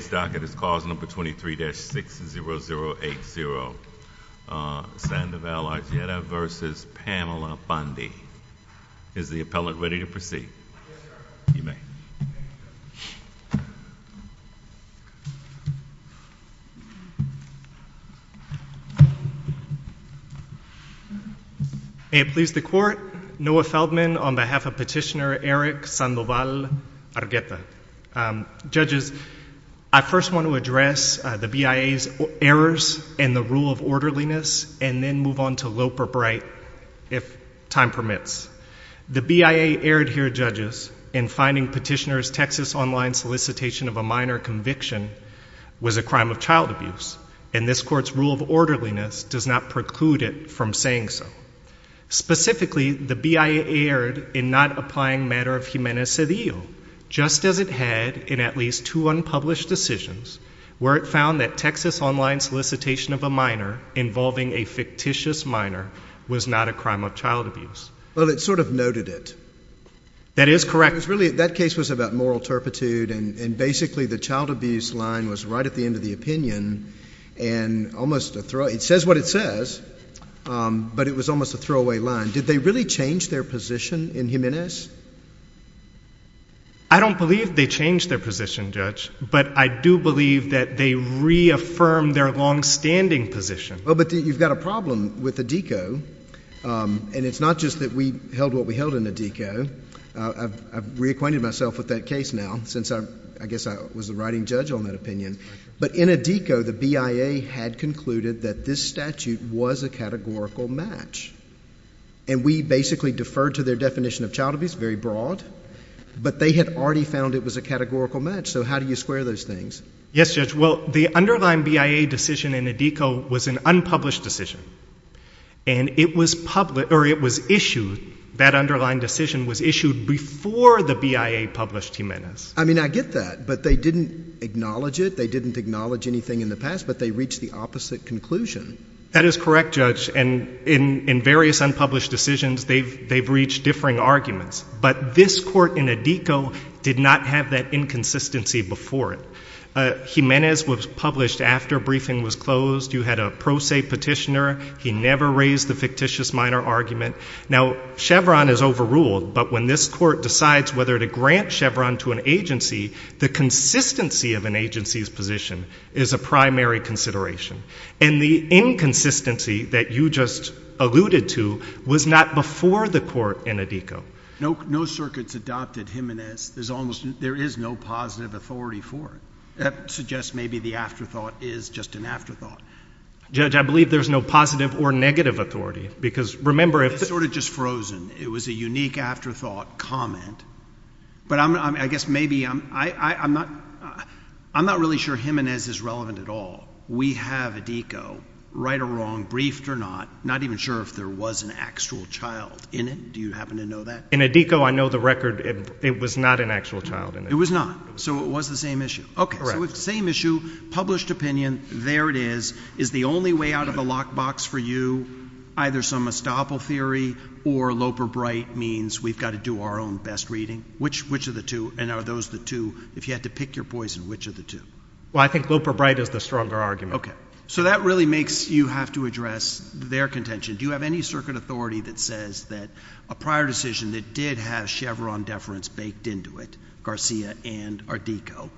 This docket is clause number 23-60080, Sandoval Argueta v. Pamela Bondi. Is the appellant ready to proceed? Yes, sir. You may. May it please the Court, Noah Feldman on behalf of Petitioner Eric Sandoval Argueta. Judges, I first want to address the BIA's errors in the rule of orderliness and then move on to lope or bright, if time permits. The BIA erred here, judges, in finding Petitioner's Texas Online solicitation of a minor conviction was a crime of child abuse, and this Court's rule of orderliness does not preclude it from saying so. Specifically, the BIA erred in not applying matter of humana sedio, just as it had in at least two unpublished decisions, where it found that Texas Online solicitation of a minor involving a fictitious minor was not a crime of child abuse. Well, it sort of noted it. That is correct. It was really, that case was about moral turpitude, and basically the child abuse line was right at the end of the opinion, and almost a throw, it says what it says. But it was almost a throwaway line. Did they really change their position in Jimenez? I don't believe they changed their position, Judge, but I do believe that they reaffirmed their longstanding position. Well, but you've got a problem with ADECO, and it's not just that we held what we held in ADECO. I've reacquainted myself with that case now, since I guess I was the writing judge on that But in ADECO, the BIA had concluded that this statute was a categorical match, and we basically deferred to their definition of child abuse, very broad, but they had already found it was a categorical match, so how do you square those things? Yes, Judge. Well, the underlying BIA decision in ADECO was an unpublished decision, and it was issued, that underlying decision was issued before the BIA published Jimenez. I mean, I get that, but they didn't acknowledge it. They didn't acknowledge anything in the past, but they reached the opposite conclusion. That is correct, Judge, and in various unpublished decisions, they've reached differing arguments, but this court in ADECO did not have that inconsistency before it. Jimenez was published after a briefing was closed. You had a pro se petitioner. He never raised the fictitious minor argument. Now, Chevron is overruled, but when this court decides whether to grant Chevron to an agency, the consistency of an agency's position is a primary consideration, and the inconsistency that you just alluded to was not before the court in ADECO. No circuits adopted Jimenez. There is no positive authority for it. That suggests maybe the afterthought is just an afterthought. Judge, I believe there's no positive or negative authority, because remember, if the... It's sort of just frozen. It was a unique afterthought comment, but I guess maybe I'm not really sure Jimenez is relevant at all. We have ADECO, right or wrong, briefed or not, not even sure if there was an actual child in it. Do you happen to know that? In ADECO, I know the record, it was not an actual child in it. It was not, so it was the same issue. Okay, so it's the same issue. Published opinion, there it is, is the only way out of the lockbox for you, either some estoppel theory or Loper-Bright means we've got to do our own best reading. Which of the two, and are those the two, if you had to pick your poison, which of the two? Well, I think Loper-Bright is the stronger argument. Okay, so that really makes you have to address their contention. Do you have any circuit authority that says that a prior decision that did have Chevron deference baked into it, Garcia and ADECO,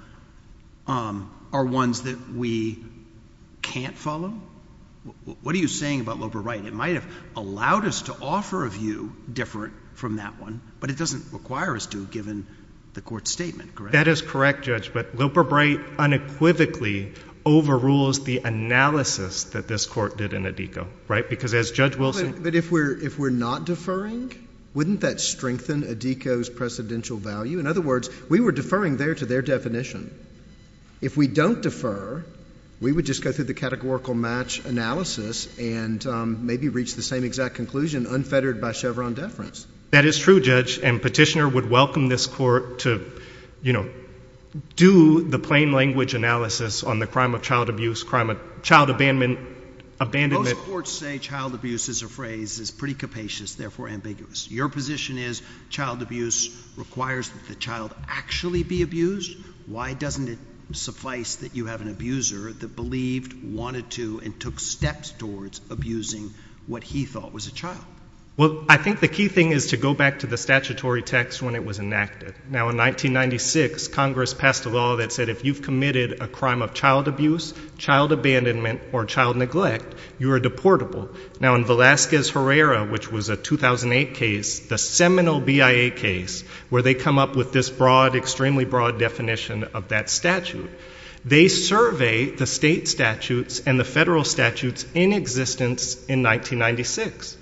are ones that we can't follow? What are you saying about Loper-Bright? It might have allowed us to offer a view different from that one, but it doesn't require us to given the court's statement, correct? That is correct, Judge, but Loper-Bright unequivocally overrules the analysis that this court did in ADECO, right? Because as Judge Wilson— But if we're not deferring, wouldn't that strengthen ADECO's precedential value? In other words, we were deferring there to their definition. If we don't defer, we would just go through the categorical match analysis and maybe reach the same exact conclusion, unfettered by Chevron deference. That is true, Judge, and Petitioner would welcome this court to, you know, do the plain language analysis on the crime of child abuse, crime of child abandonment— Most courts say child abuse is a phrase that's pretty capacious, therefore ambiguous. Your position is child abuse requires that the child actually be abused. Why doesn't it suffice that you have an abuser that believed, wanted to, and took steps towards abusing what he thought was a child? Well, I think the key thing is to go back to the statutory text when it was enacted. Now, in 1996, Congress passed a law that said if you've committed a crime of child abuse, child abandonment, or child neglect, you are deportable. Now, in Velazquez-Herrera, which was a 2008 case, the seminal BIA case, where they come up with this broad, extremely broad definition of that statute, they surveyed the state statutes and the federal statutes in existence in 1996,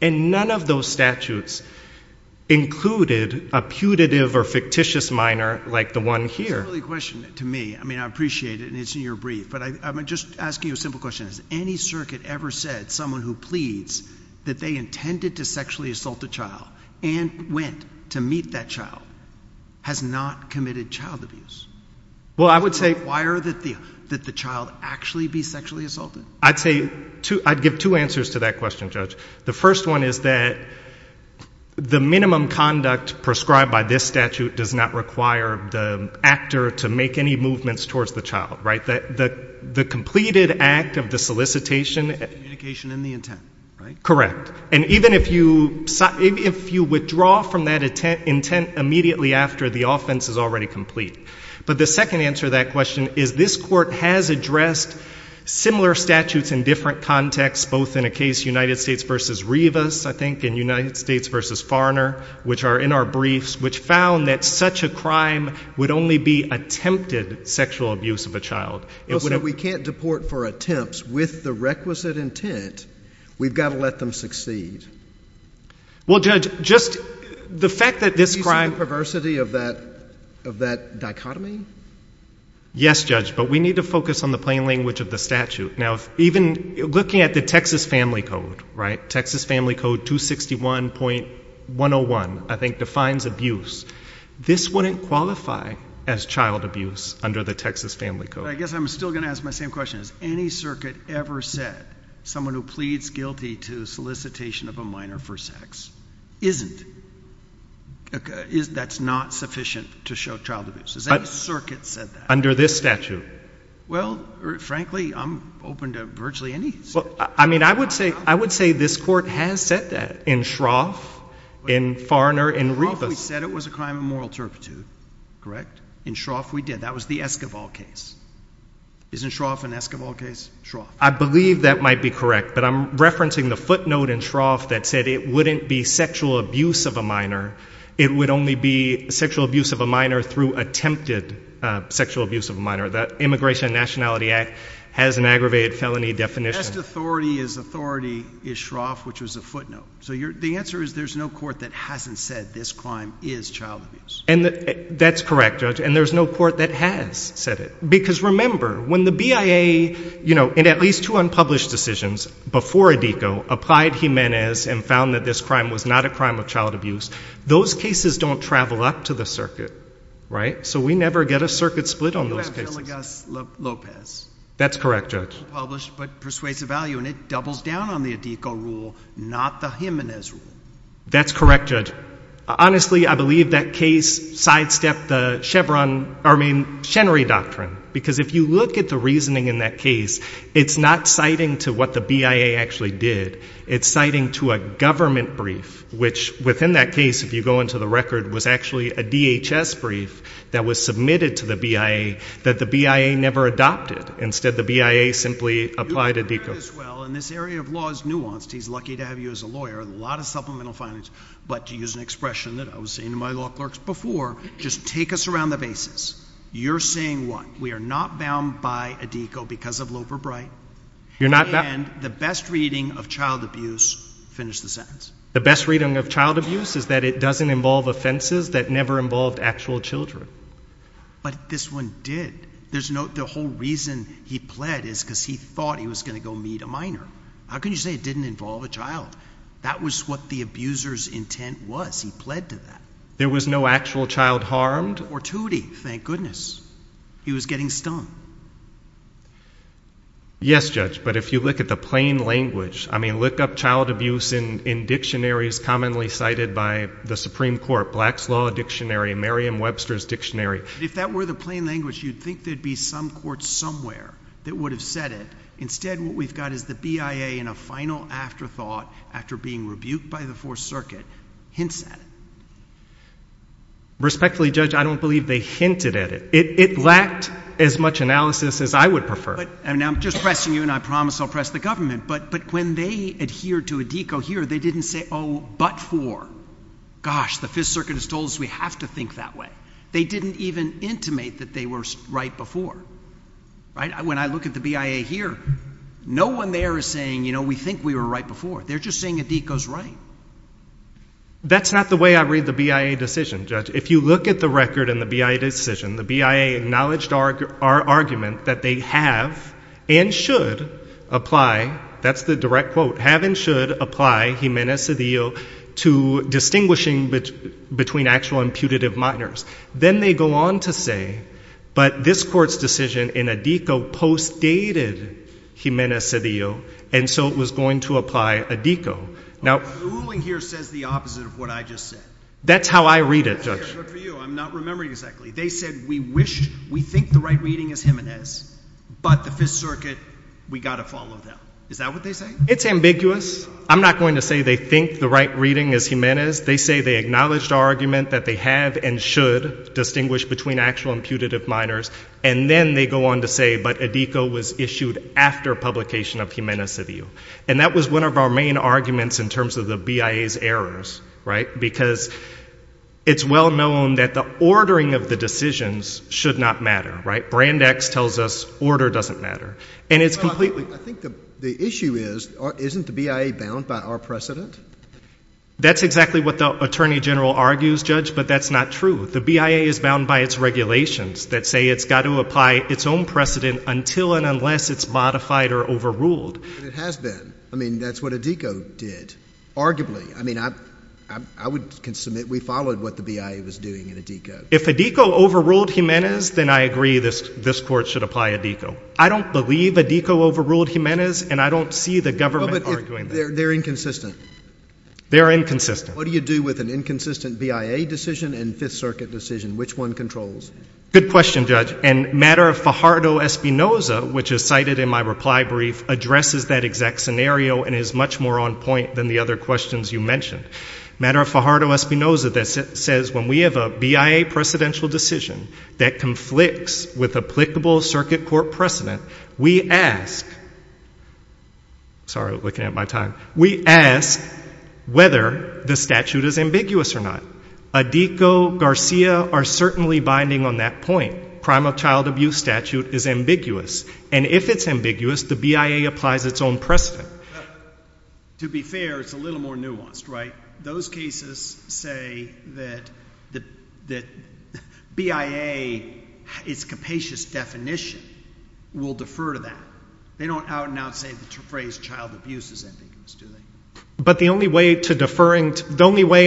and none of those statutes included a putative or fictitious minor like the one here. That's a really good question to me. I mean, I appreciate it, and it's in your brief, but I'm just asking you a simple question. Has any circuit ever said someone who pleads that they intended to sexually assault a child and went to meet that child has not committed child abuse? Well, I would say— Does it require that the child actually be sexually assaulted? I'd say—I'd give two answers to that question, Judge. The first one is that the minimum conduct prescribed by this statute does not require the actor to make any movements towards the child, right? The completed act of the solicitation— Communication in the intent, right? Correct. And even if you withdraw from that intent immediately after, the offense is already complete. But the second answer to that question is this Court has addressed similar statutes in different contexts, both in a case, United States v. Rivas, I think, and United States v. Farner, which are in our briefs, which found that such a crime would only be attempted sexual abuse of a child. Well, so we can't deport for attempts with the requisite intent. We've got to let them succeed. Well, Judge, just the fact that this crime— Is this the perversity of that dichotomy? Yes, Judge, but we need to focus on the plain language of the statute. Now, even looking at the Texas Family Code, right? Texas Family Code 261.101, I think, defines abuse. This wouldn't qualify as child abuse under the Texas Family Code. I guess I'm still going to ask my same question. Has any circuit ever said someone who pleads guilty to solicitation of a minor for sex isn't— that's not sufficient to show child abuse? Has any circuit said that? Under this statute. Well, frankly, I'm open to virtually any statute. I mean, I would say this Court has said that in Shroff, in Farner, in Rivas. In Shroff, we said it was a crime of moral turpitude, correct? In Shroff, we did. That was the Esquivel case. Isn't Shroff an Esquivel case? Shroff. I believe that might be correct, but I'm referencing the footnote in Shroff that said it wouldn't be sexual abuse of a minor. It would only be sexual abuse of a minor through attempted sexual abuse of a minor. That Immigration and Nationality Act has an aggravated felony definition. Best authority is authority is Shroff, which was a footnote. So the answer is there's no court that hasn't said this crime is child abuse. And that's correct, Judge, and there's no court that has said it. Because remember, when the BIA, you know, in at least two unpublished decisions before ADECO, applied Jimenez and found that this crime was not a crime of child abuse, those cases don't travel up to the circuit, right? So we never get a circuit split on those cases. Villegas-Lopez. That's correct, Judge. Unpublished but persuasive value, and it doubles down on the ADECO rule, not the Jimenez rule. That's correct, Judge. Honestly, I believe that case sidestepped the Chevron, I mean, Chenery Doctrine. Because if you look at the reasoning in that case, it's not citing to what the BIA actually did. It's citing to a government brief, which within that case, if you go into the record, was actually a DHS brief that was submitted to the BIA that the BIA never adopted. Instead, the BIA simply applied ADECO. You've heard this well, and this area of law is nuanced. He's lucky to have you as a lawyer, a lot of supplemental findings. But to use an expression that I was saying to my law clerks before, just take us around the basis. You're saying what? We are not bound by ADECO because of Loeb or Bright. You're not bound. And the best reading of child abuse, finish the sentence. The best reading of child abuse is that it doesn't involve offenses that never involved actual children. But this one did. There's no, the whole reason he pled is because he thought he was going to go meet a minor. How can you say it didn't involve a child? That was what the abuser's intent was. He pled to that. There was no actual child harmed? Or tootie, thank goodness. He was getting stung. Yes, Judge. But if you look at the plain language, I mean, look up child abuse in dictionaries commonly cited by the Supreme Court. Black's Law Dictionary, Merriam-Webster's Dictionary. If that were the plain language, you'd think there'd be some court somewhere that would have said it. Instead, what we've got is the BIA in a final afterthought after being rebuked by the Fourth Circuit hints at it. Respectfully, Judge, I don't believe they hinted at it. It lacked as much analysis as I would prefer. And I'm just pressing you, and I promise I'll press the government. But when they adhere to ADECO here, they didn't say, oh, but for. Gosh, the Fifth Circuit has told us we have to think that way. They didn't even intimate that they were right before, right? When I look at the BIA here, no one there is saying, you know, we think we were right before. They're just saying ADECO's right. That's not the way I read the BIA decision, Judge. If you look at the record in the BIA decision, the BIA acknowledged our argument that they have and should apply. That's the direct quote. Have and should apply, hymena sedio, to distinguishing between actual and putative minors. Then they go on to say, but this court's decision in ADECO postdated hymena sedio, and so it was going to apply ADECO. Now, the ruling here says the opposite of what I just said. That's how I read it, Judge. Good for you. I'm not remembering exactly. They said we wish, we think the right reading is hymenas, but the Fifth Circuit, we got to follow them. Is that what they say? It's ambiguous. I'm not going to say they think the right reading is hymenas. They say they acknowledged our argument that they have and should distinguish between actual and putative minors. And then they go on to say, but ADECO was issued after publication of hymena sedio. And that was one of our main arguments in terms of the BIA's errors, right? Because it's well known that the ordering of the decisions should not matter, right? Brand X tells us order doesn't matter. And it's completely- I think the issue is, isn't the BIA bound by our precedent? That's exactly what the Attorney General argues, Judge, but that's not true. The BIA is bound by its regulations that say it's got to apply its own precedent until and unless it's modified or overruled. It has been. I mean, that's what ADECO did, arguably. I mean, I would submit we followed what the BIA was doing in ADECO. If ADECO overruled hymenas, then I agree this court should apply ADECO. I don't believe ADECO overruled hymenas, and I don't see the government arguing that. They're inconsistent. They're inconsistent. What do you do with an inconsistent BIA decision and Fifth Circuit decision? Which one controls? Good question, Judge. And matter of Fajardo-Espinoza, which is cited in my reply brief, addresses that exact scenario and is much more on point than the other questions you mentioned. Matter of Fajardo-Espinoza says when we have a BIA precedential decision that conflicts with applicable circuit court precedent, we ask. Sorry, looking at my time. We ask whether the statute is ambiguous or not. ADECO, Garcia are certainly binding on that point. Primal child abuse statute is ambiguous. And if it's ambiguous, the BIA applies its own precedent. To be fair, it's a little more nuanced, right? Those cases say that BIA, its capacious definition, will defer to that. They don't out and out say the phrase child abuse is ambiguous, do they? But the only way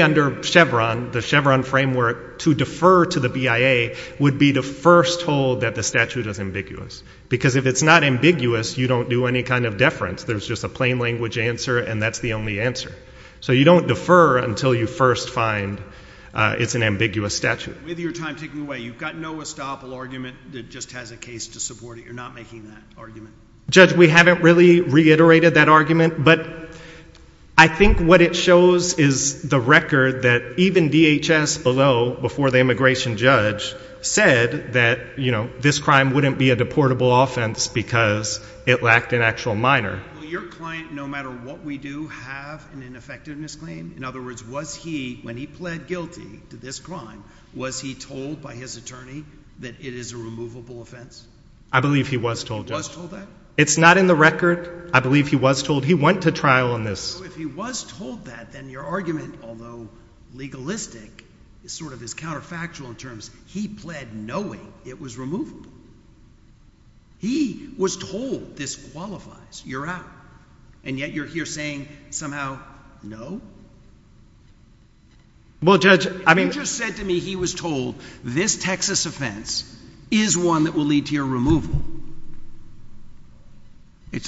under Chevron, the Chevron framework, to defer to the BIA would be to first hold that the statute is ambiguous. Because if it's not ambiguous, you don't do any kind of deference. There's just a plain language answer, and that's the only answer. So you don't defer until you first find it's an ambiguous statute. With your time taking away, you've got no estoppel argument that just has a case to support it. You're not making that argument. Judge, we haven't really reiterated that argument, but I think what it shows is the record that even DHS below, before the immigration judge, said that this crime wouldn't be a deportable offense because it lacked an actual minor. Your client, no matter what we do, have an ineffectiveness claim? In other words, was he, when he pled guilty to this crime, was he told by his attorney that it is a removable offense? I believe he was told, Judge. It's not in the record. I believe he was told. He went to trial on this. If he was told that, then your argument, although legalistic, is sort of this counterfactual in terms. He pled knowing it was removable. He was told this qualifies. You're out. And yet you're here saying, somehow, no? Well, Judge, I mean. It's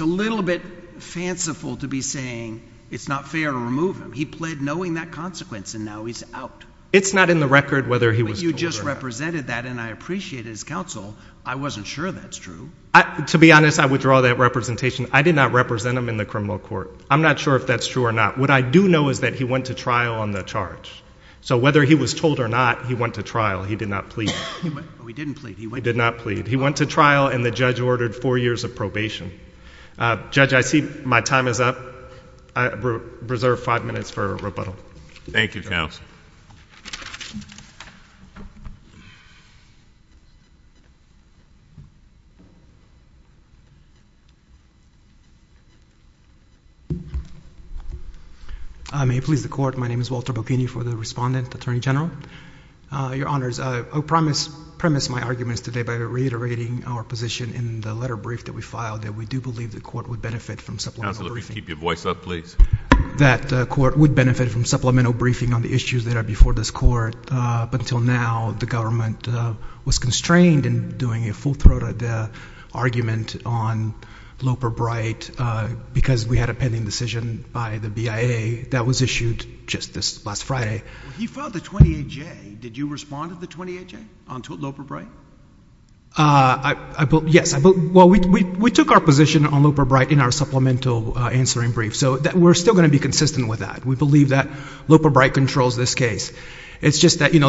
a little bit fanciful to be saying it's not fair to remove him. He pled knowing that consequence, and now he's out. It's not in the record whether he was told or not. But you just represented that, and I appreciate his counsel. I wasn't sure that's true. To be honest, I withdraw that representation. I did not represent him in the criminal court. I'm not sure if that's true or not. What I do know is that he went to trial on the charge. So whether he was told or not, he went to trial. He did not plead. He didn't plead. He did not plead. He went to trial, and the judge ordered four years of probation. Judge, I see my time is up. I reserve five minutes for rebuttal. Thank you, counsel. May it please the court, my name is Walter Bocchini for the respondent, attorney general. Your honors, I'll premise my arguments today by reiterating our position in the letter brief that we filed, that we do believe the court would benefit from supplemental briefing. Counsel, if you could keep your voice up, please. That the court would benefit from supplemental briefing on the issues that are before this court. But until now, the government was constrained in doing a full-throated argument on Loper Bright because we had a pending decision by the BIA that was issued just this last Friday. He filed the 28-J. Did you respond to the 28-J on Loper Bright? Yes. Well, we took our position on Loper Bright in our supplemental answering brief. So we're still going to be consistent with that. We believe that Loper Bright controls this case. It's just that there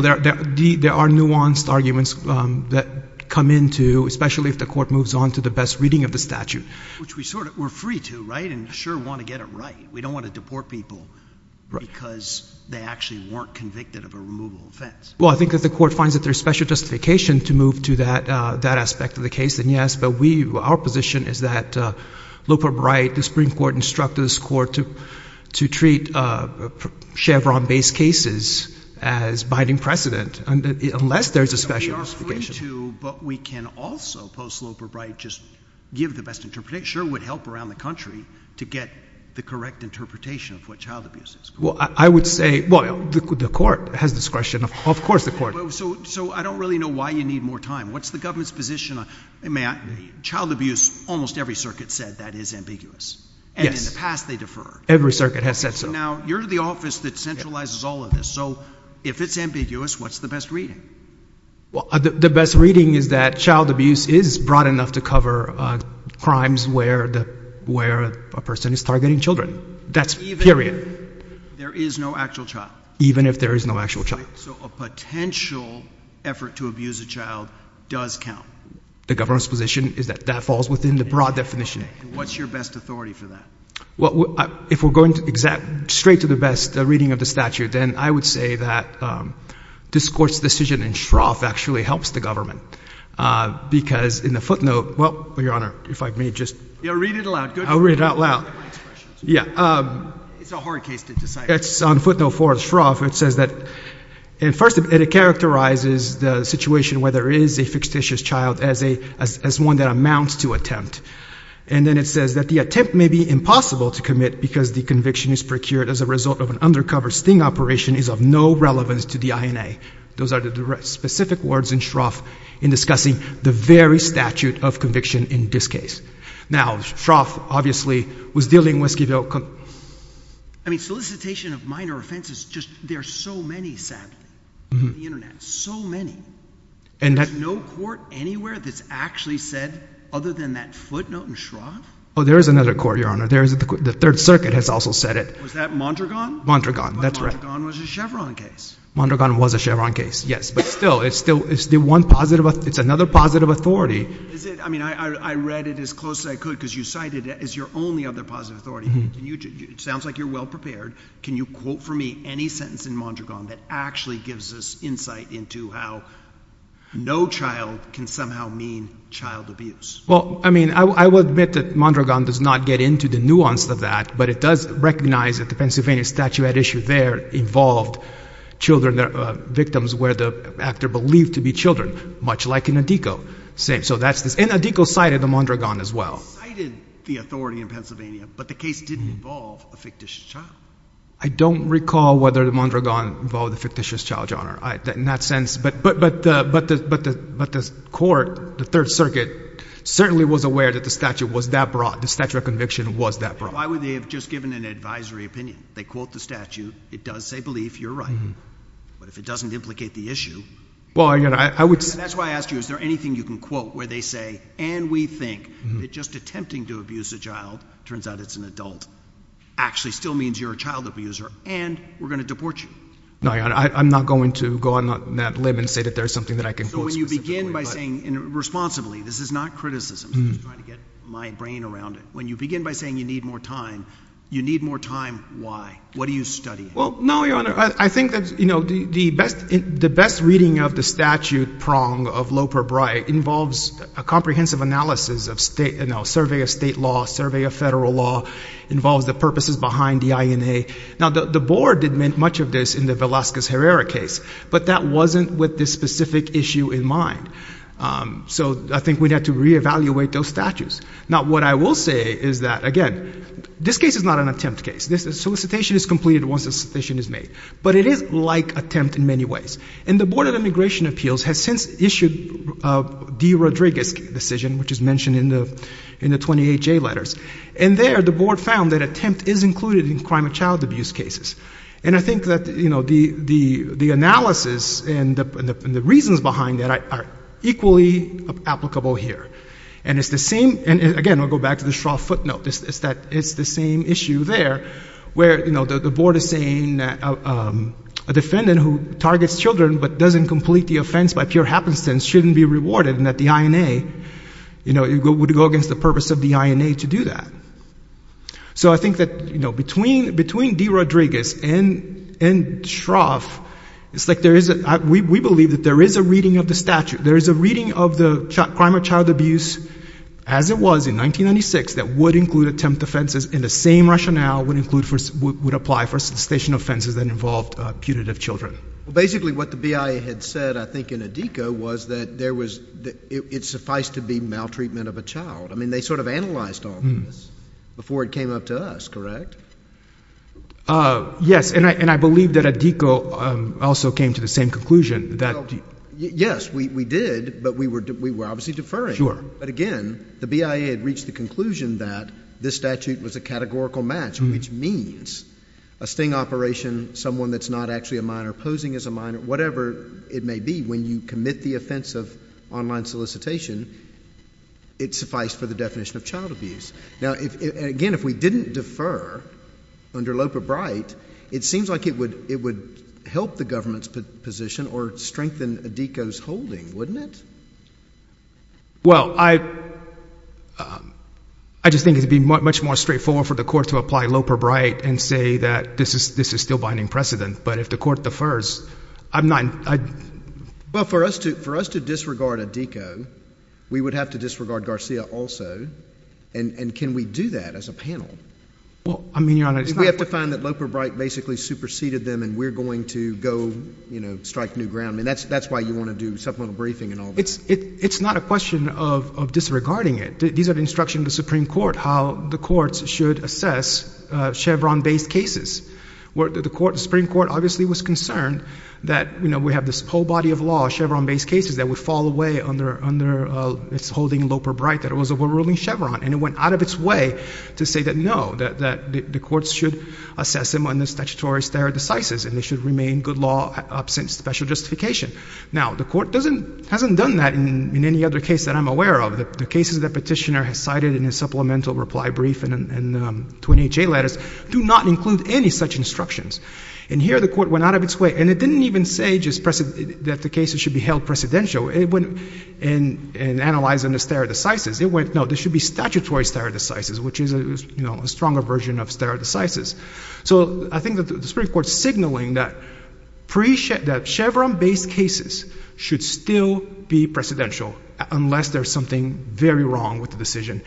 are nuanced arguments that come into, especially if the court moves on to the best reading of the statute. Which we're free to, right, and sure want to get it right. We don't want to deport people because they actually weren't convicted of a removal offense. Well, I think if the court finds that there's special justification to move to that aspect of the case, then yes. But our position is that Loper Bright, the Supreme Court instructed this court to treat Chevron-based cases as binding precedent, unless there's a special justification. But we can also, post Loper Bright, just give the best interpretation. Sure, it would help around the country to get the correct interpretation of what child abuse is. Well, I would say, well, the court has discretion. Of course, the court. So I don't really know why you need more time. What's the government's position? Child abuse, almost every circuit said that is ambiguous. And in the past, they deferred. Every circuit has said so. Now, you're the office that centralizes all of this. So if it's ambiguous, what's the best reading? Well, the best reading is that child abuse is broad enough to cover crimes where a person is targeting children. That's period. There is no actual child. Even if there is no actual child. So a potential effort to abuse a child does count. The government's position is that that falls within the broad definition. What's your best authority for that? Well, if we're going straight to the best reading of the statute, then I would say that this court's decision in Shroff actually helps the government. Because in the footnote, well, Your Honor, if I may just. Yeah, read it aloud. I'll read it out loud. Yeah. It's a hard case to decide. It's on footnote four of Shroff. It says that, and first, it characterizes the situation where there is a fictitious child as one that amounts to attempt. And then it says that the attempt may be impossible to commit because the conviction is procured as a result of an undercover sting operation is of no relevance to the INA. Those are the specific words in Shroff in discussing the very statute of conviction in this case. Now, Shroff, obviously, was dealing with Skid Row. I mean, solicitation of minor offenses, there are so many, sadly, on the internet. So many. And there's no court anywhere that's actually said other than that footnote in Shroff? Oh, there is another court, Your Honor. The Third Circuit has also said it. Was that Mondragon? Mondragon, that's right. But Mondragon was a Chevron case. Mondragon was a Chevron case, yes. But still, it's another positive authority. I mean, I read it as close as I could because you cited it as your only other positive authority. Sounds like you're well-prepared. Can you quote for me any sentence in Mondragon that actually gives us insight into how no child can somehow mean child abuse? Well, I mean, I will admit that Mondragon does not get into the nuance of that. But it does recognize that the Pennsylvania statute at issue there involved victims where the actor believed to be children, much like in Antico. So that's this. And Antico cited the Mondragon as well. Cited the authority in Pennsylvania, but the case didn't involve a fictitious child. I don't recall whether the Mondragon involved a fictitious child, Your Honor, in that sense. But the court, the Third Circuit, certainly was aware that the statute was that broad. The statute of conviction was that broad. Why would they have just given an advisory opinion? They quote the statute. It does say belief. You're right. But if it doesn't implicate the issue, that's why I asked you, is there anything you can quote where they say, and we think, that just attempting to abuse a child, turns out it's an adult, actually still means you're a child abuser, and we're going to deport you? No, Your Honor. I'm not going to go on that limb and say that there's something that I can quote specifically. So when you begin by saying, and responsibly, this is not criticism. I'm just trying to get my brain around it. When you begin by saying you need more time, you need more time, why? What are you studying? Well, no, Your Honor. I think that the best reading of the statute prong of Loper-Bry involves a comprehensive analysis of survey of state law, survey of federal law, involves the purposes behind the INA. Now, the board did make much of this in the Velazquez-Herrera case, but that wasn't with this specific issue in mind. So I think we'd have to re-evaluate those statutes. Now, what I will say is that, again, this case is not an attempt case. This solicitation is completed once the solicitation is made, but it is like attempt in many ways. And the Board of Immigration Appeals has since issued a D. Rodriguez decision, which is mentioned in the 28J letters. And there, the board found that attempt is included in crime of child abuse cases. And I think that the analysis and the reasons behind that are equally applicable here. And it's the same, and again, I'll go back to the straw footnote, is that it's the same issue there, where the board is saying that a defendant who targets children but doesn't complete the offense by pure happenstance shouldn't be rewarded, and that the INA would go against the purpose of the INA to do that. So I think that between D. Rodriguez and Shroff, we believe that there is a reading of the statute. There is a reading of the crime of child abuse, as it was in 1996, that would include attempt offenses in the same rationale would apply for cessation offenses that involved putative children. Well, basically, what the BIA had said, I think, in ADECA was that it sufficed to be maltreatment of a child. I mean, they sort of analyzed all this before it came up to us, correct? Yes, and I believe that ADECA also came to the same conclusion. Yes, we did, but we were obviously deferring. But again, the BIA had reached the conclusion that this statute was a categorical match, which means a sting operation, someone that's not actually a minor, posing as a minor, whatever it may be, when you commit the offense of online solicitation, it sufficed for the definition of child abuse. Now, again, if we didn't defer under Lopebright, it seems like it would help the government's position or strengthen ADECA's holding, wouldn't it? Well, I just think it would be much more straightforward for the court to apply Lopebright and say that this is still binding precedent. But if the court defers, I'm not in. Well, for us to disregard ADECA, we would have to disregard Garcia also. And can we do that as a panel? Well, I mean, Your Honor, it's not. We have to find that Lopebright basically superseded them, and we're going to go strike new ground. And that's why you want to do supplemental briefing and all that. It's not a question of disregarding it. These are the instructions of the Supreme Court how the courts should assess Chevron-based cases. The Supreme Court obviously was concerned that we have this whole body of law, Chevron-based cases, that would fall away under its holding Lopebright, that it was a world-ruling Chevron. And it went out of its way to say that no, that the courts should assess them on the statutory stare decisis, and they should remain good law absent special justification. Now, the court hasn't done that in any other case that I'm aware of. The cases that Petitioner has cited in his supplemental reply brief and 28J letters do not include any such instructions. And here, the court went out of its way. And it didn't even say that the cases should be held precedential and analyzed under stare decisis. It went, no, there should be statutory stare decisis, which is a stronger version of stare decisis. So I think that the Supreme Court signaling that Chevron-based cases should still be presidential, unless there's something very wrong with the decision.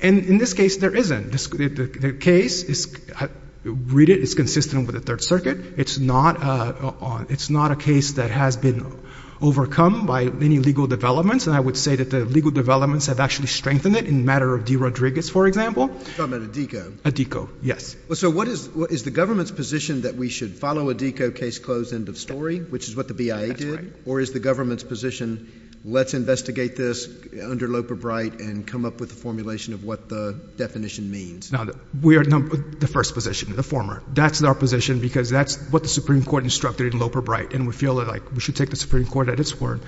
And in this case, there isn't. The case is consistent with the Third Circuit. It's not a case that has been overcome by any legal developments. And I would say that the legal developments have actually strengthened it in the matter of DeRodriguez, for example. You're talking about Addico. Addico, yes. So what is the government's position that we should follow Addico case close end of story, which is what the BIA did? Or is the government's position, let's investigate this under Loper-Bright and come up with a formulation of what the definition means? No, we are in the first position, the former. That's our position, because that's what the Supreme Court instructed in Loper-Bright. And we feel like we should take the Supreme Court at its word.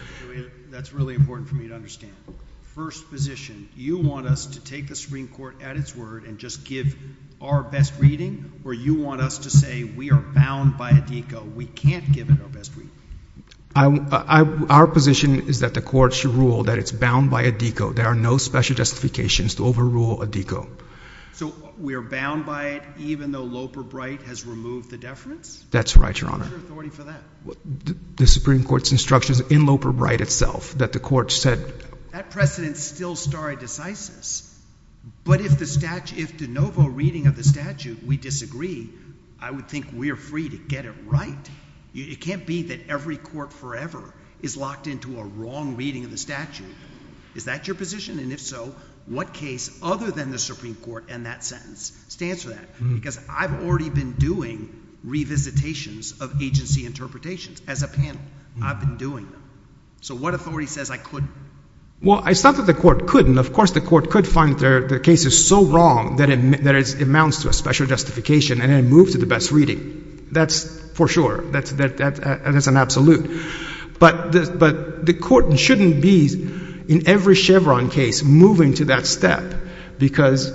That's really important for me to understand. First position, you want us to take the Supreme Court at its word and just give our best reading? Or you want us to say, we are bound by Addico. We can't give it our best reading. Our position is that the court should rule that it's bound by Addico. There are no special justifications to overrule Addico. So we are bound by it, even though Loper-Bright has removed the deference? That's right, Your Honor. What's your authority for that? The Supreme Court's instructions in Loper-Bright itself, that the court said. That precedent's still stare decisis. But if de novo reading of the statute, we disagree, I would think we are free to get it right. It can't be that every court forever is locked into a wrong reading of the statute. Is that your position? And if so, what case, other than the Supreme Court and that sentence, stands for that? Because I've already been doing revisitations of agency interpretations as a panel. I've been doing them. So what authority says I couldn't? Well, it's not that the court couldn't. Of course, the court could find the case is so wrong that it amounts to a special justification and then move to the best reading. That's for sure. That's an absolute. But the court shouldn't be, in every Chevron case, moving to that step. Because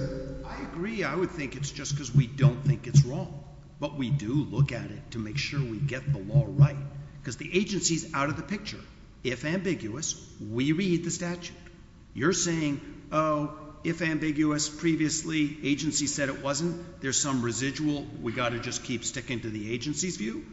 I agree. I would think it's just because we don't think it's wrong. But we do look at it to make sure we get the law right. Because the agency's out of the picture. If ambiguous, we read the statute. You're saying, oh, if ambiguous previously, agency said it wasn't, there's some residual, we've got to just keep sticking to the agency's view?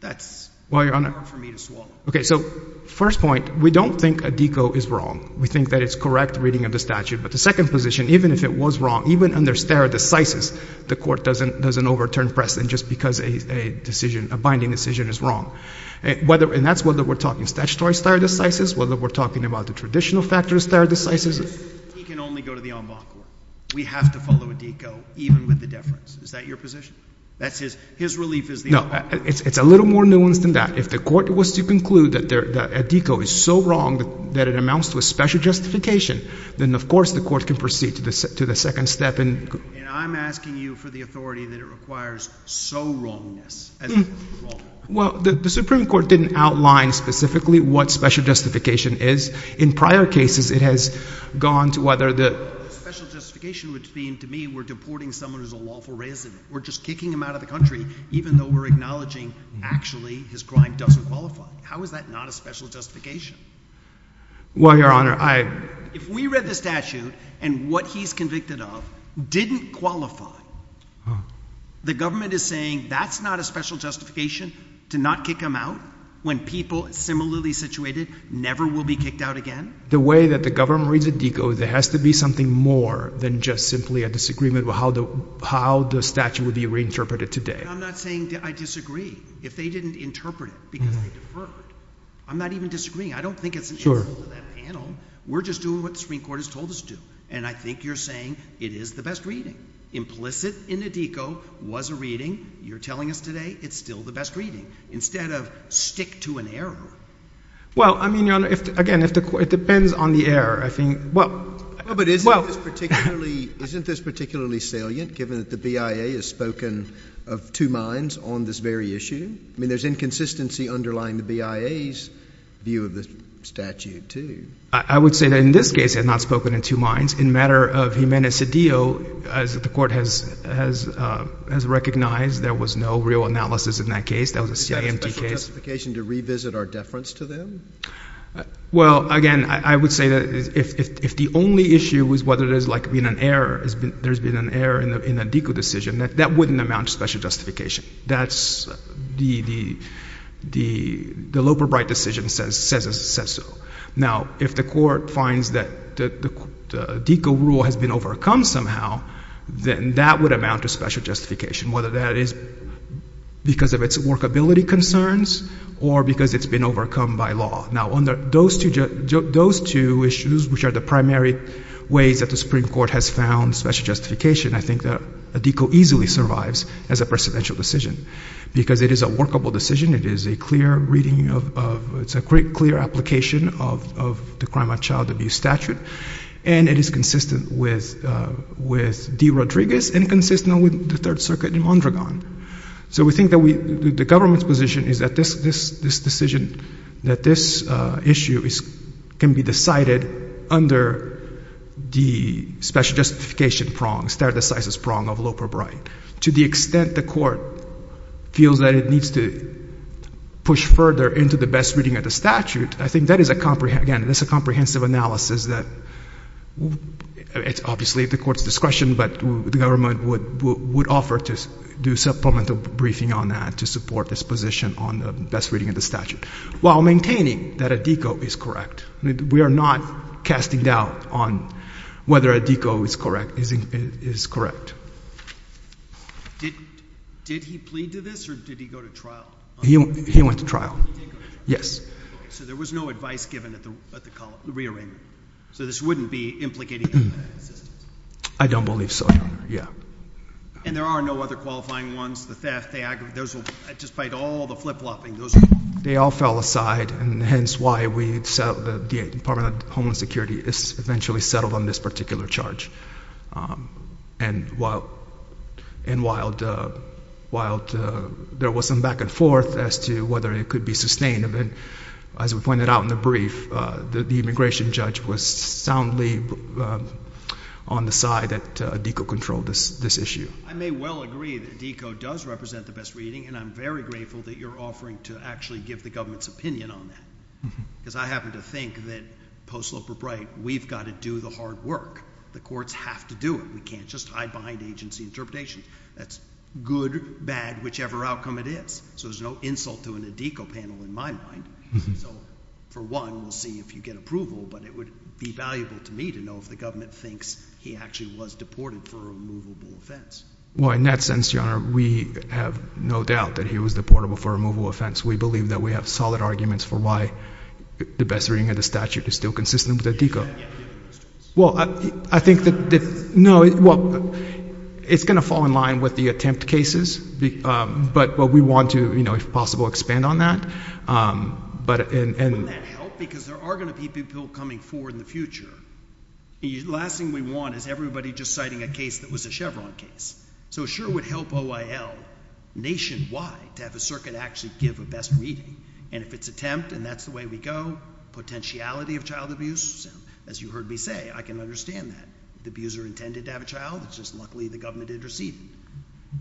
That's hard for me to swallow. OK, so first point, we don't think a DECO is wrong. We think that it's correct reading of the statute. But the second position, even if it was wrong, even under stare decisis, the court doesn't overturn precedent just because a binding decision is wrong. And that's whether we're talking statutory stare decisis, whether we're talking about the traditional factor stare decisis. He can only go to the en banc court. We have to follow a DECO, even with the deference. Is that your position? That's his relief is the en banc. No, it's a little more nuanced than that. If the court was to conclude that a DECO is so wrong that it amounts to a special justification, then of course the court can proceed to the second step. And I'm asking you for the authority that it requires so wrongness as wrong. Well, the Supreme Court didn't outline specifically what special justification is. In prior cases, it has gone to whether the special justification would seem to me we're deporting someone who's a lawful resident. We're just kicking him out of the country even though we're acknowledging actually his crime doesn't qualify. How is that not a special justification? Well, Your Honor, I. If we read the statute and what he's convicted of didn't qualify, the government is saying that's not a special justification to not kick him out when people similarly situated never will be kicked out again. The way that the government reads a DECO, there has to be something more than just simply a disagreement with how the statute would be reinterpreted today. I'm not saying I disagree. If they didn't interpret it because they deferred, I'm not even disagreeing. I don't think it's an insult to that panel. We're just doing what the Supreme Court has told us to do. And I think you're saying it is the best reading. Implicit in a DECO was a reading. You're telling us today it's still the best reading. Instead of stick to an error. Well, I mean, Your Honor, again, it depends on the error. I think, well. But isn't this particularly salient given that the BIA has spoken of two minds on this very issue? I mean, there's inconsistency underlying the BIA's view of the statute, too. I would say that in this case, had not spoken in two minds. In matter of Humanae Sedio, as the court has recognized, there was no real analysis in that case. That was a CIMT case. Is that a special justification to revisit our deference to them? Well, again, I would say that if the only issue was whether there has been an error, there's been an error in a DECO decision, that wouldn't amount to special justification. That's the Loeb or Bright decision says so. Now, if the court finds that the DECO rule has been overcome somehow, then that would amount to special justification. Whether that is because of its workability concerns or because it's been overcome by law. Now, those two issues, which are the primary ways that the Supreme Court has found special justification, I think that a DECO easily survives as a precedential decision. Because it is a workable decision. It is a clear reading of, it's a clear application of the crime of child abuse statute. And it is consistent with D. Rodriguez and consistent with the Third Circuit in Mondragon. So we think that the government's position is that this decision, that this issue can be decided under the special justification prong, stare decisis prong of Loeb or Bright. To the extent the court feels that it needs to push further into the best reading of the statute, I think that is a comprehensive analysis that, obviously, is at the court's discretion. But the government would offer to do supplemental briefing on that to support this position on the best reading of the statute. While maintaining that a DECO is correct. We are not casting doubt on whether a DECO is correct. Did he plead to this? Or did he go to trial? He went to trial. Yes. So there was no advice given at the re-arraignment. So this wouldn't be implicating him in that insistence? I don't believe so, Your Honor. Yeah. And there are no other qualifying ones? The theft, the aggravation, despite all the flip-flopping? They all fell aside. And hence, why the Department of Homeland Security is eventually settled on this particular charge. And while there was some back and forth as to whether it could be sustained, as we pointed out in the brief, the immigration judge was soundly on the side that DECO controlled this issue. I may well agree that DECO does represent the best reading. And I'm very grateful that you're offering to actually give the government's opinion on that. Because I happen to think that post-Lippert-Bright, we've got to do the hard work. The courts have to do it. We can't just hide behind agency interpretation. That's good, bad, whichever outcome it is. So there's no insult to a DECO panel in my mind. So for one, we'll see if you get approval. But it would be valuable to me to know if the government thinks he actually was deported for a removable offense. Well, in that sense, Your Honor, we have no doubt that he was deportable for a removable offense. We believe that we have solid arguments for why the best reading of the statute is still consistent with the DECO. Well, I think that, no, well, it's going to fall in line with the attempt cases. But we want to, if possible, expand on that. Wouldn't that help? Because there are going to be people coming forward in the future. Last thing we want is everybody just citing a case that was a Chevron case. So it sure would help OIL nationwide to have a circuit actually give a best reading. And if it's attempt, and that's the way we go, potentiality of child abuse, as you heard me say, I can understand that. If the abuser intended to have a child, it's just luckily the government interceded.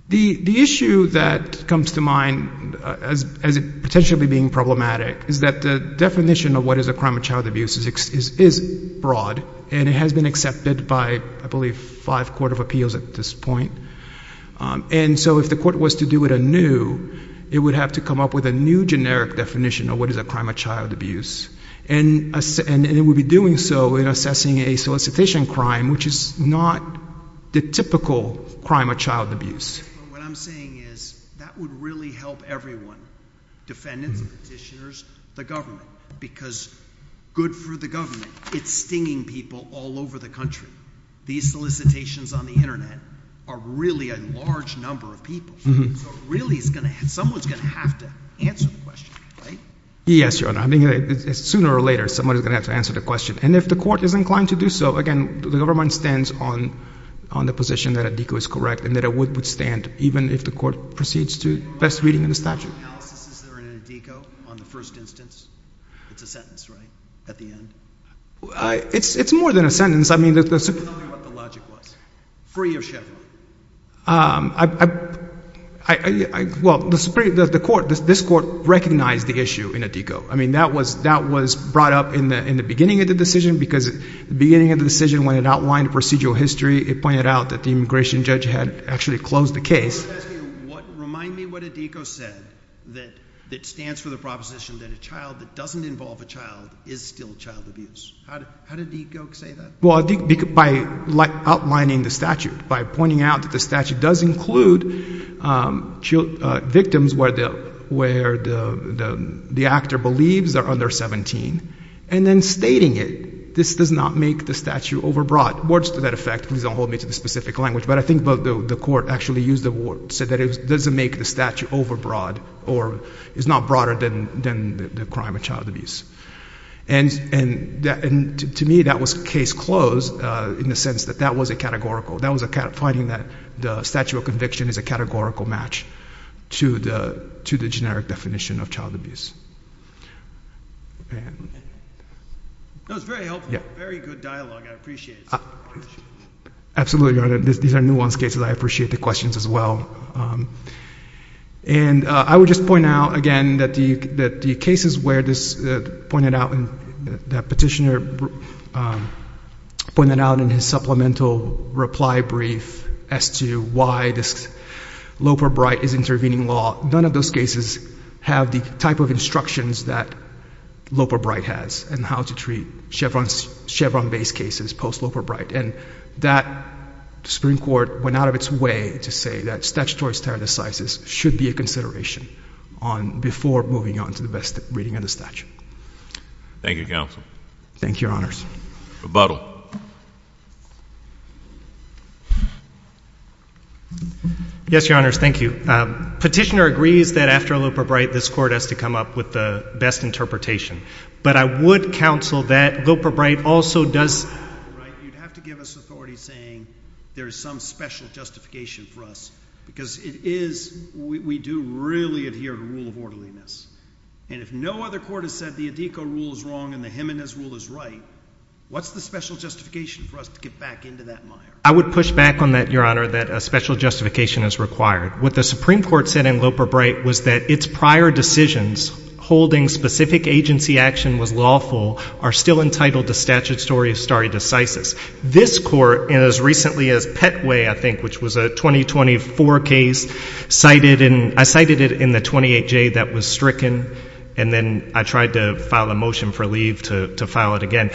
The issue that comes to mind as potentially being problematic is that the definition of what is a crime of child abuse is broad. And it has been accepted by, I believe, five court of appeals at this point. And so if the court was to do it anew, it would have to come up with a new generic definition of what is a crime of child abuse. And it would be doing so in assessing a solicitation crime, which is not the typical crime of child abuse. What I'm saying is that would really help everyone, defendants, petitioners, the government. Because good for the government, it's stinging people all over the country. These solicitations on the internet are really a large number of people. So really someone's going to have to answer the question, right? Yes, Your Honor. Sooner or later, someone is going to have to answer the question. And if the court is inclined to do so, again, the government stands on the position that ADICO is correct and that it would stand, even if the court proceeds to best reading of the statute. Are there any analyses that are in ADICO on the first instance? It's a sentence, right? At the end? It's more than a sentence. I mean, the Supreme Court. Tell me what the logic was. Free of Chevron. Well, the Supreme Court, this court recognized the issue in ADICO. I mean, that was brought up in the beginning of the decision. Because the beginning of the decision, when it outlined procedural history, it pointed out that the immigration judge had actually closed the case. Remind me what ADICO said that stands for the proposition that a child that doesn't involve a child is still child abuse. How did ADICO say that? Well, I think by outlining the statute, by pointing out that the statute does include victims where the actor believes they're under 17, and then stating it, this does not make the statute overbroad. Words to that effect. Please don't hold me to the specific language. But I think the court actually said that it doesn't make the statute overbroad, or it's not broader than the crime of child abuse. And to me, that was case closed, in the sense that that was a categorical. That was a finding that the statute of conviction is a categorical match to the generic definition of child abuse. That was very helpful. Very good dialogue. I appreciate it so much. Absolutely, Your Honor. These are nuanced cases. I appreciate the questions as well. And I would just point out, again, that the cases where this petitioner pointed out in his supplemental reply brief as to why this Loper-Bright is intervening law, none of those cases have the type of instructions that Loper-Bright has and how to treat Chevron-based cases post-Loper-Bright. And that Supreme Court went out of its way to say that statutory standardizes should be a consideration before moving on to the best reading of the statute. Thank you, counsel. Thank you, Your Honors. Rebuttal. Yes, Your Honors. Thank you. Petitioner agrees that after Loper-Bright, this court has to come up with the best interpretation. But I would counsel that Loper-Bright also does have to give us authority saying there is some special justification for us. Because we do really adhere to rule of orderliness. And if no other court has said the ADECO rule is wrong and the Jimenez rule is right, what's the special justification for us to get back into that mire? I would push back on that, Your Honor, that a special justification is required. What the Supreme Court said in Loper-Bright was that its prior decisions holding specific agency action was lawful are still entitled to statute statutory stare decisis. This court, as recently as Petway, I think, which was a 2024 case, I cited it in the 28J that was stricken. And then I tried to file a motion for leave to file it again.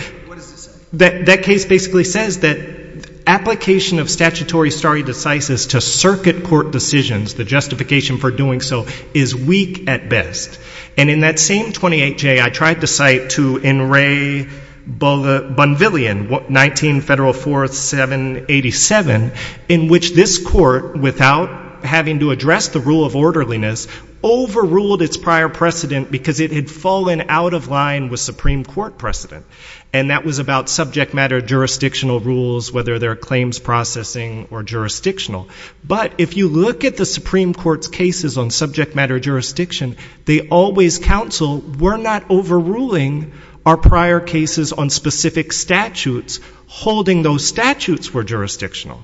That case basically says that application of statutory stare decisis to circuit court decisions, the justification for doing so, is weak at best. And in that same 28J, I tried to cite to N. Ray Bonvillian, 19 Federal 4th 787, in which this court, without having to address the rule of orderliness, overruled its prior precedent because it had fallen out of line with Supreme Court precedent. And that was about subject matter jurisdictional rules, whether they're claims processing or jurisdictional. But if you look at the Supreme Court's cases on subject matter jurisdiction, they always counsel we're not overruling our prior cases on specific statutes. Holding those statutes were jurisdictional.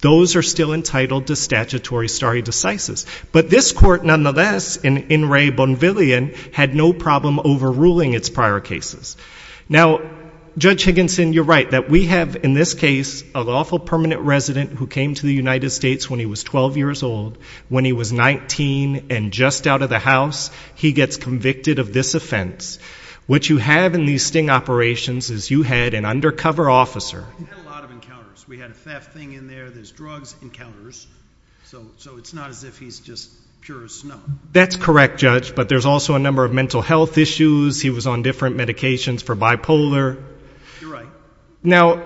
Those are still entitled to statutory stare decisis. But this court, nonetheless, in N. Ray Bonvillian, had no problem overruling its prior cases. Now, Judge Higginson, you're right that we have, in this case, a lawful permanent resident who came to the United States when he was 12 years old, when he was 19, and just out of the house, he gets convicted of this offense. What you have in these sting operations is you had an undercover officer. He had a lot of encounters. We had a theft thing in there. There's drugs encounters. So it's not as if he's just pure as snow. That's correct, Judge. But there's also a number of mental health issues. He was on different medications for bipolar. You're right. Now,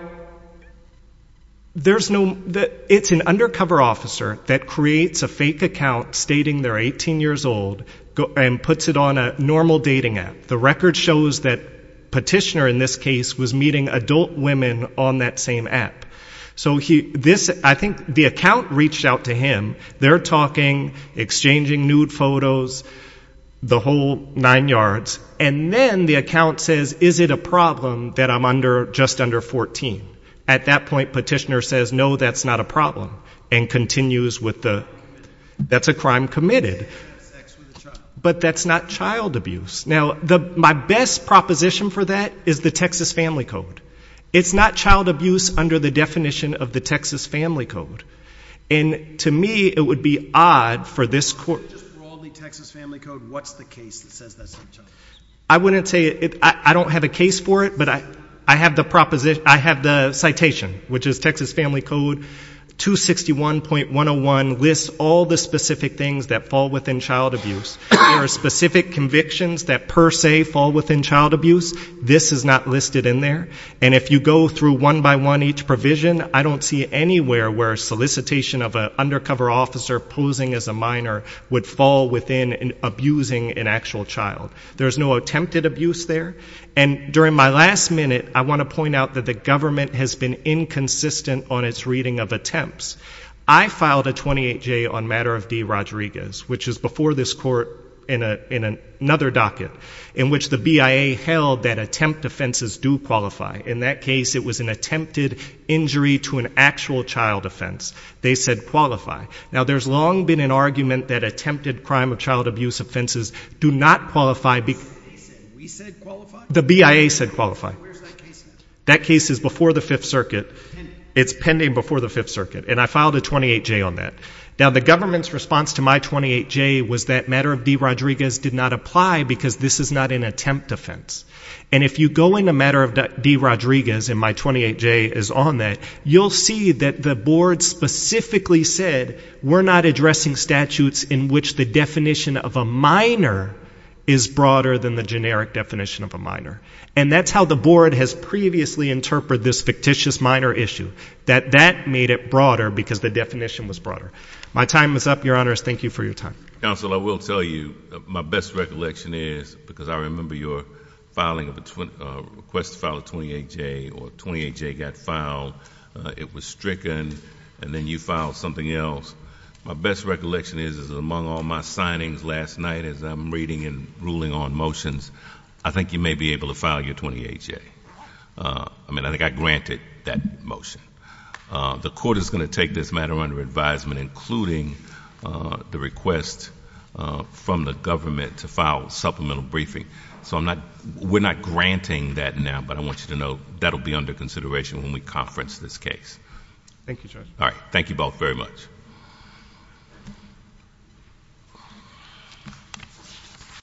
it's an undercover officer that creates a fake account stating they're 18 years old and puts it on a normal dating app. The record shows that Petitioner, in this case, was meeting adult women on that same app. So I think the account reached out to him. They're talking, exchanging nude photos, the whole nine yards. And then the account says, is it a problem that I'm just under 14? At that point, Petitioner says, no, that's not a problem and continues with the, that's a crime committed. But that's not child abuse. Now, my best proposition for that is the Texas Family Code. It's not child abuse under the definition of the Texas Family Code. And to me, it would be odd for this court. Just broadly, Texas Family Code, what's the case that says that's not child abuse? I wouldn't say it. I don't have a case for it. But I have the proposition. I have the citation, which is Texas Family Code 261.101 lists all the specific things that fall within child abuse. There are specific convictions that, per se, fall within child abuse. This is not listed in there. And if you go through one by one each provision, I don't see anywhere where a solicitation of an undercover officer posing as a minor would fall within abusing an actual child. There is no attempted abuse there. And during my last minute, I want to point out that the government has been inconsistent on its reading of attempts. I filed a 28J on matter of D. Rodriguez, which is before this court in another docket, in which the BIA held that attempt offenses do qualify. In that case, it was an attempted injury to an actual child offense. They said qualify. Now, there's long been an argument that attempted crime of child abuse offenses do not qualify. They said we said qualify? The BIA said qualify. Where's that case now? That case is before the Fifth Circuit. It's pending before the Fifth Circuit. And I filed a 28J on that. Now, the government's response to my 28J was that matter of D. Rodriguez did not apply, because this is not an attempt offense. And if you go into matter of D. Rodriguez, and my 28J is on that, you'll see that the board specifically said we're not addressing statutes in which the definition of a minor is broader than the generic definition of a minor. And that's how the board has previously interpreted this fictitious minor issue, that that made it broader because the definition was My time is up, Your Honors. Thank you for your time. Counsel, I will tell you, my best recollection is, because I remember your request to file a 28J, or a 28J got filed, it was stricken, and then you filed something else. My best recollection is, among all my signings last night as I'm reading and ruling on motions, I think you may be able to file your 28J. I mean, I think I granted that motion. The court is going to take this matter under advisement, including the request from the government to file a supplemental briefing. So we're not granting that now, but I want you to know that'll be under consideration when we conference this case. Thank you, Judge. All right. Thank you both very much.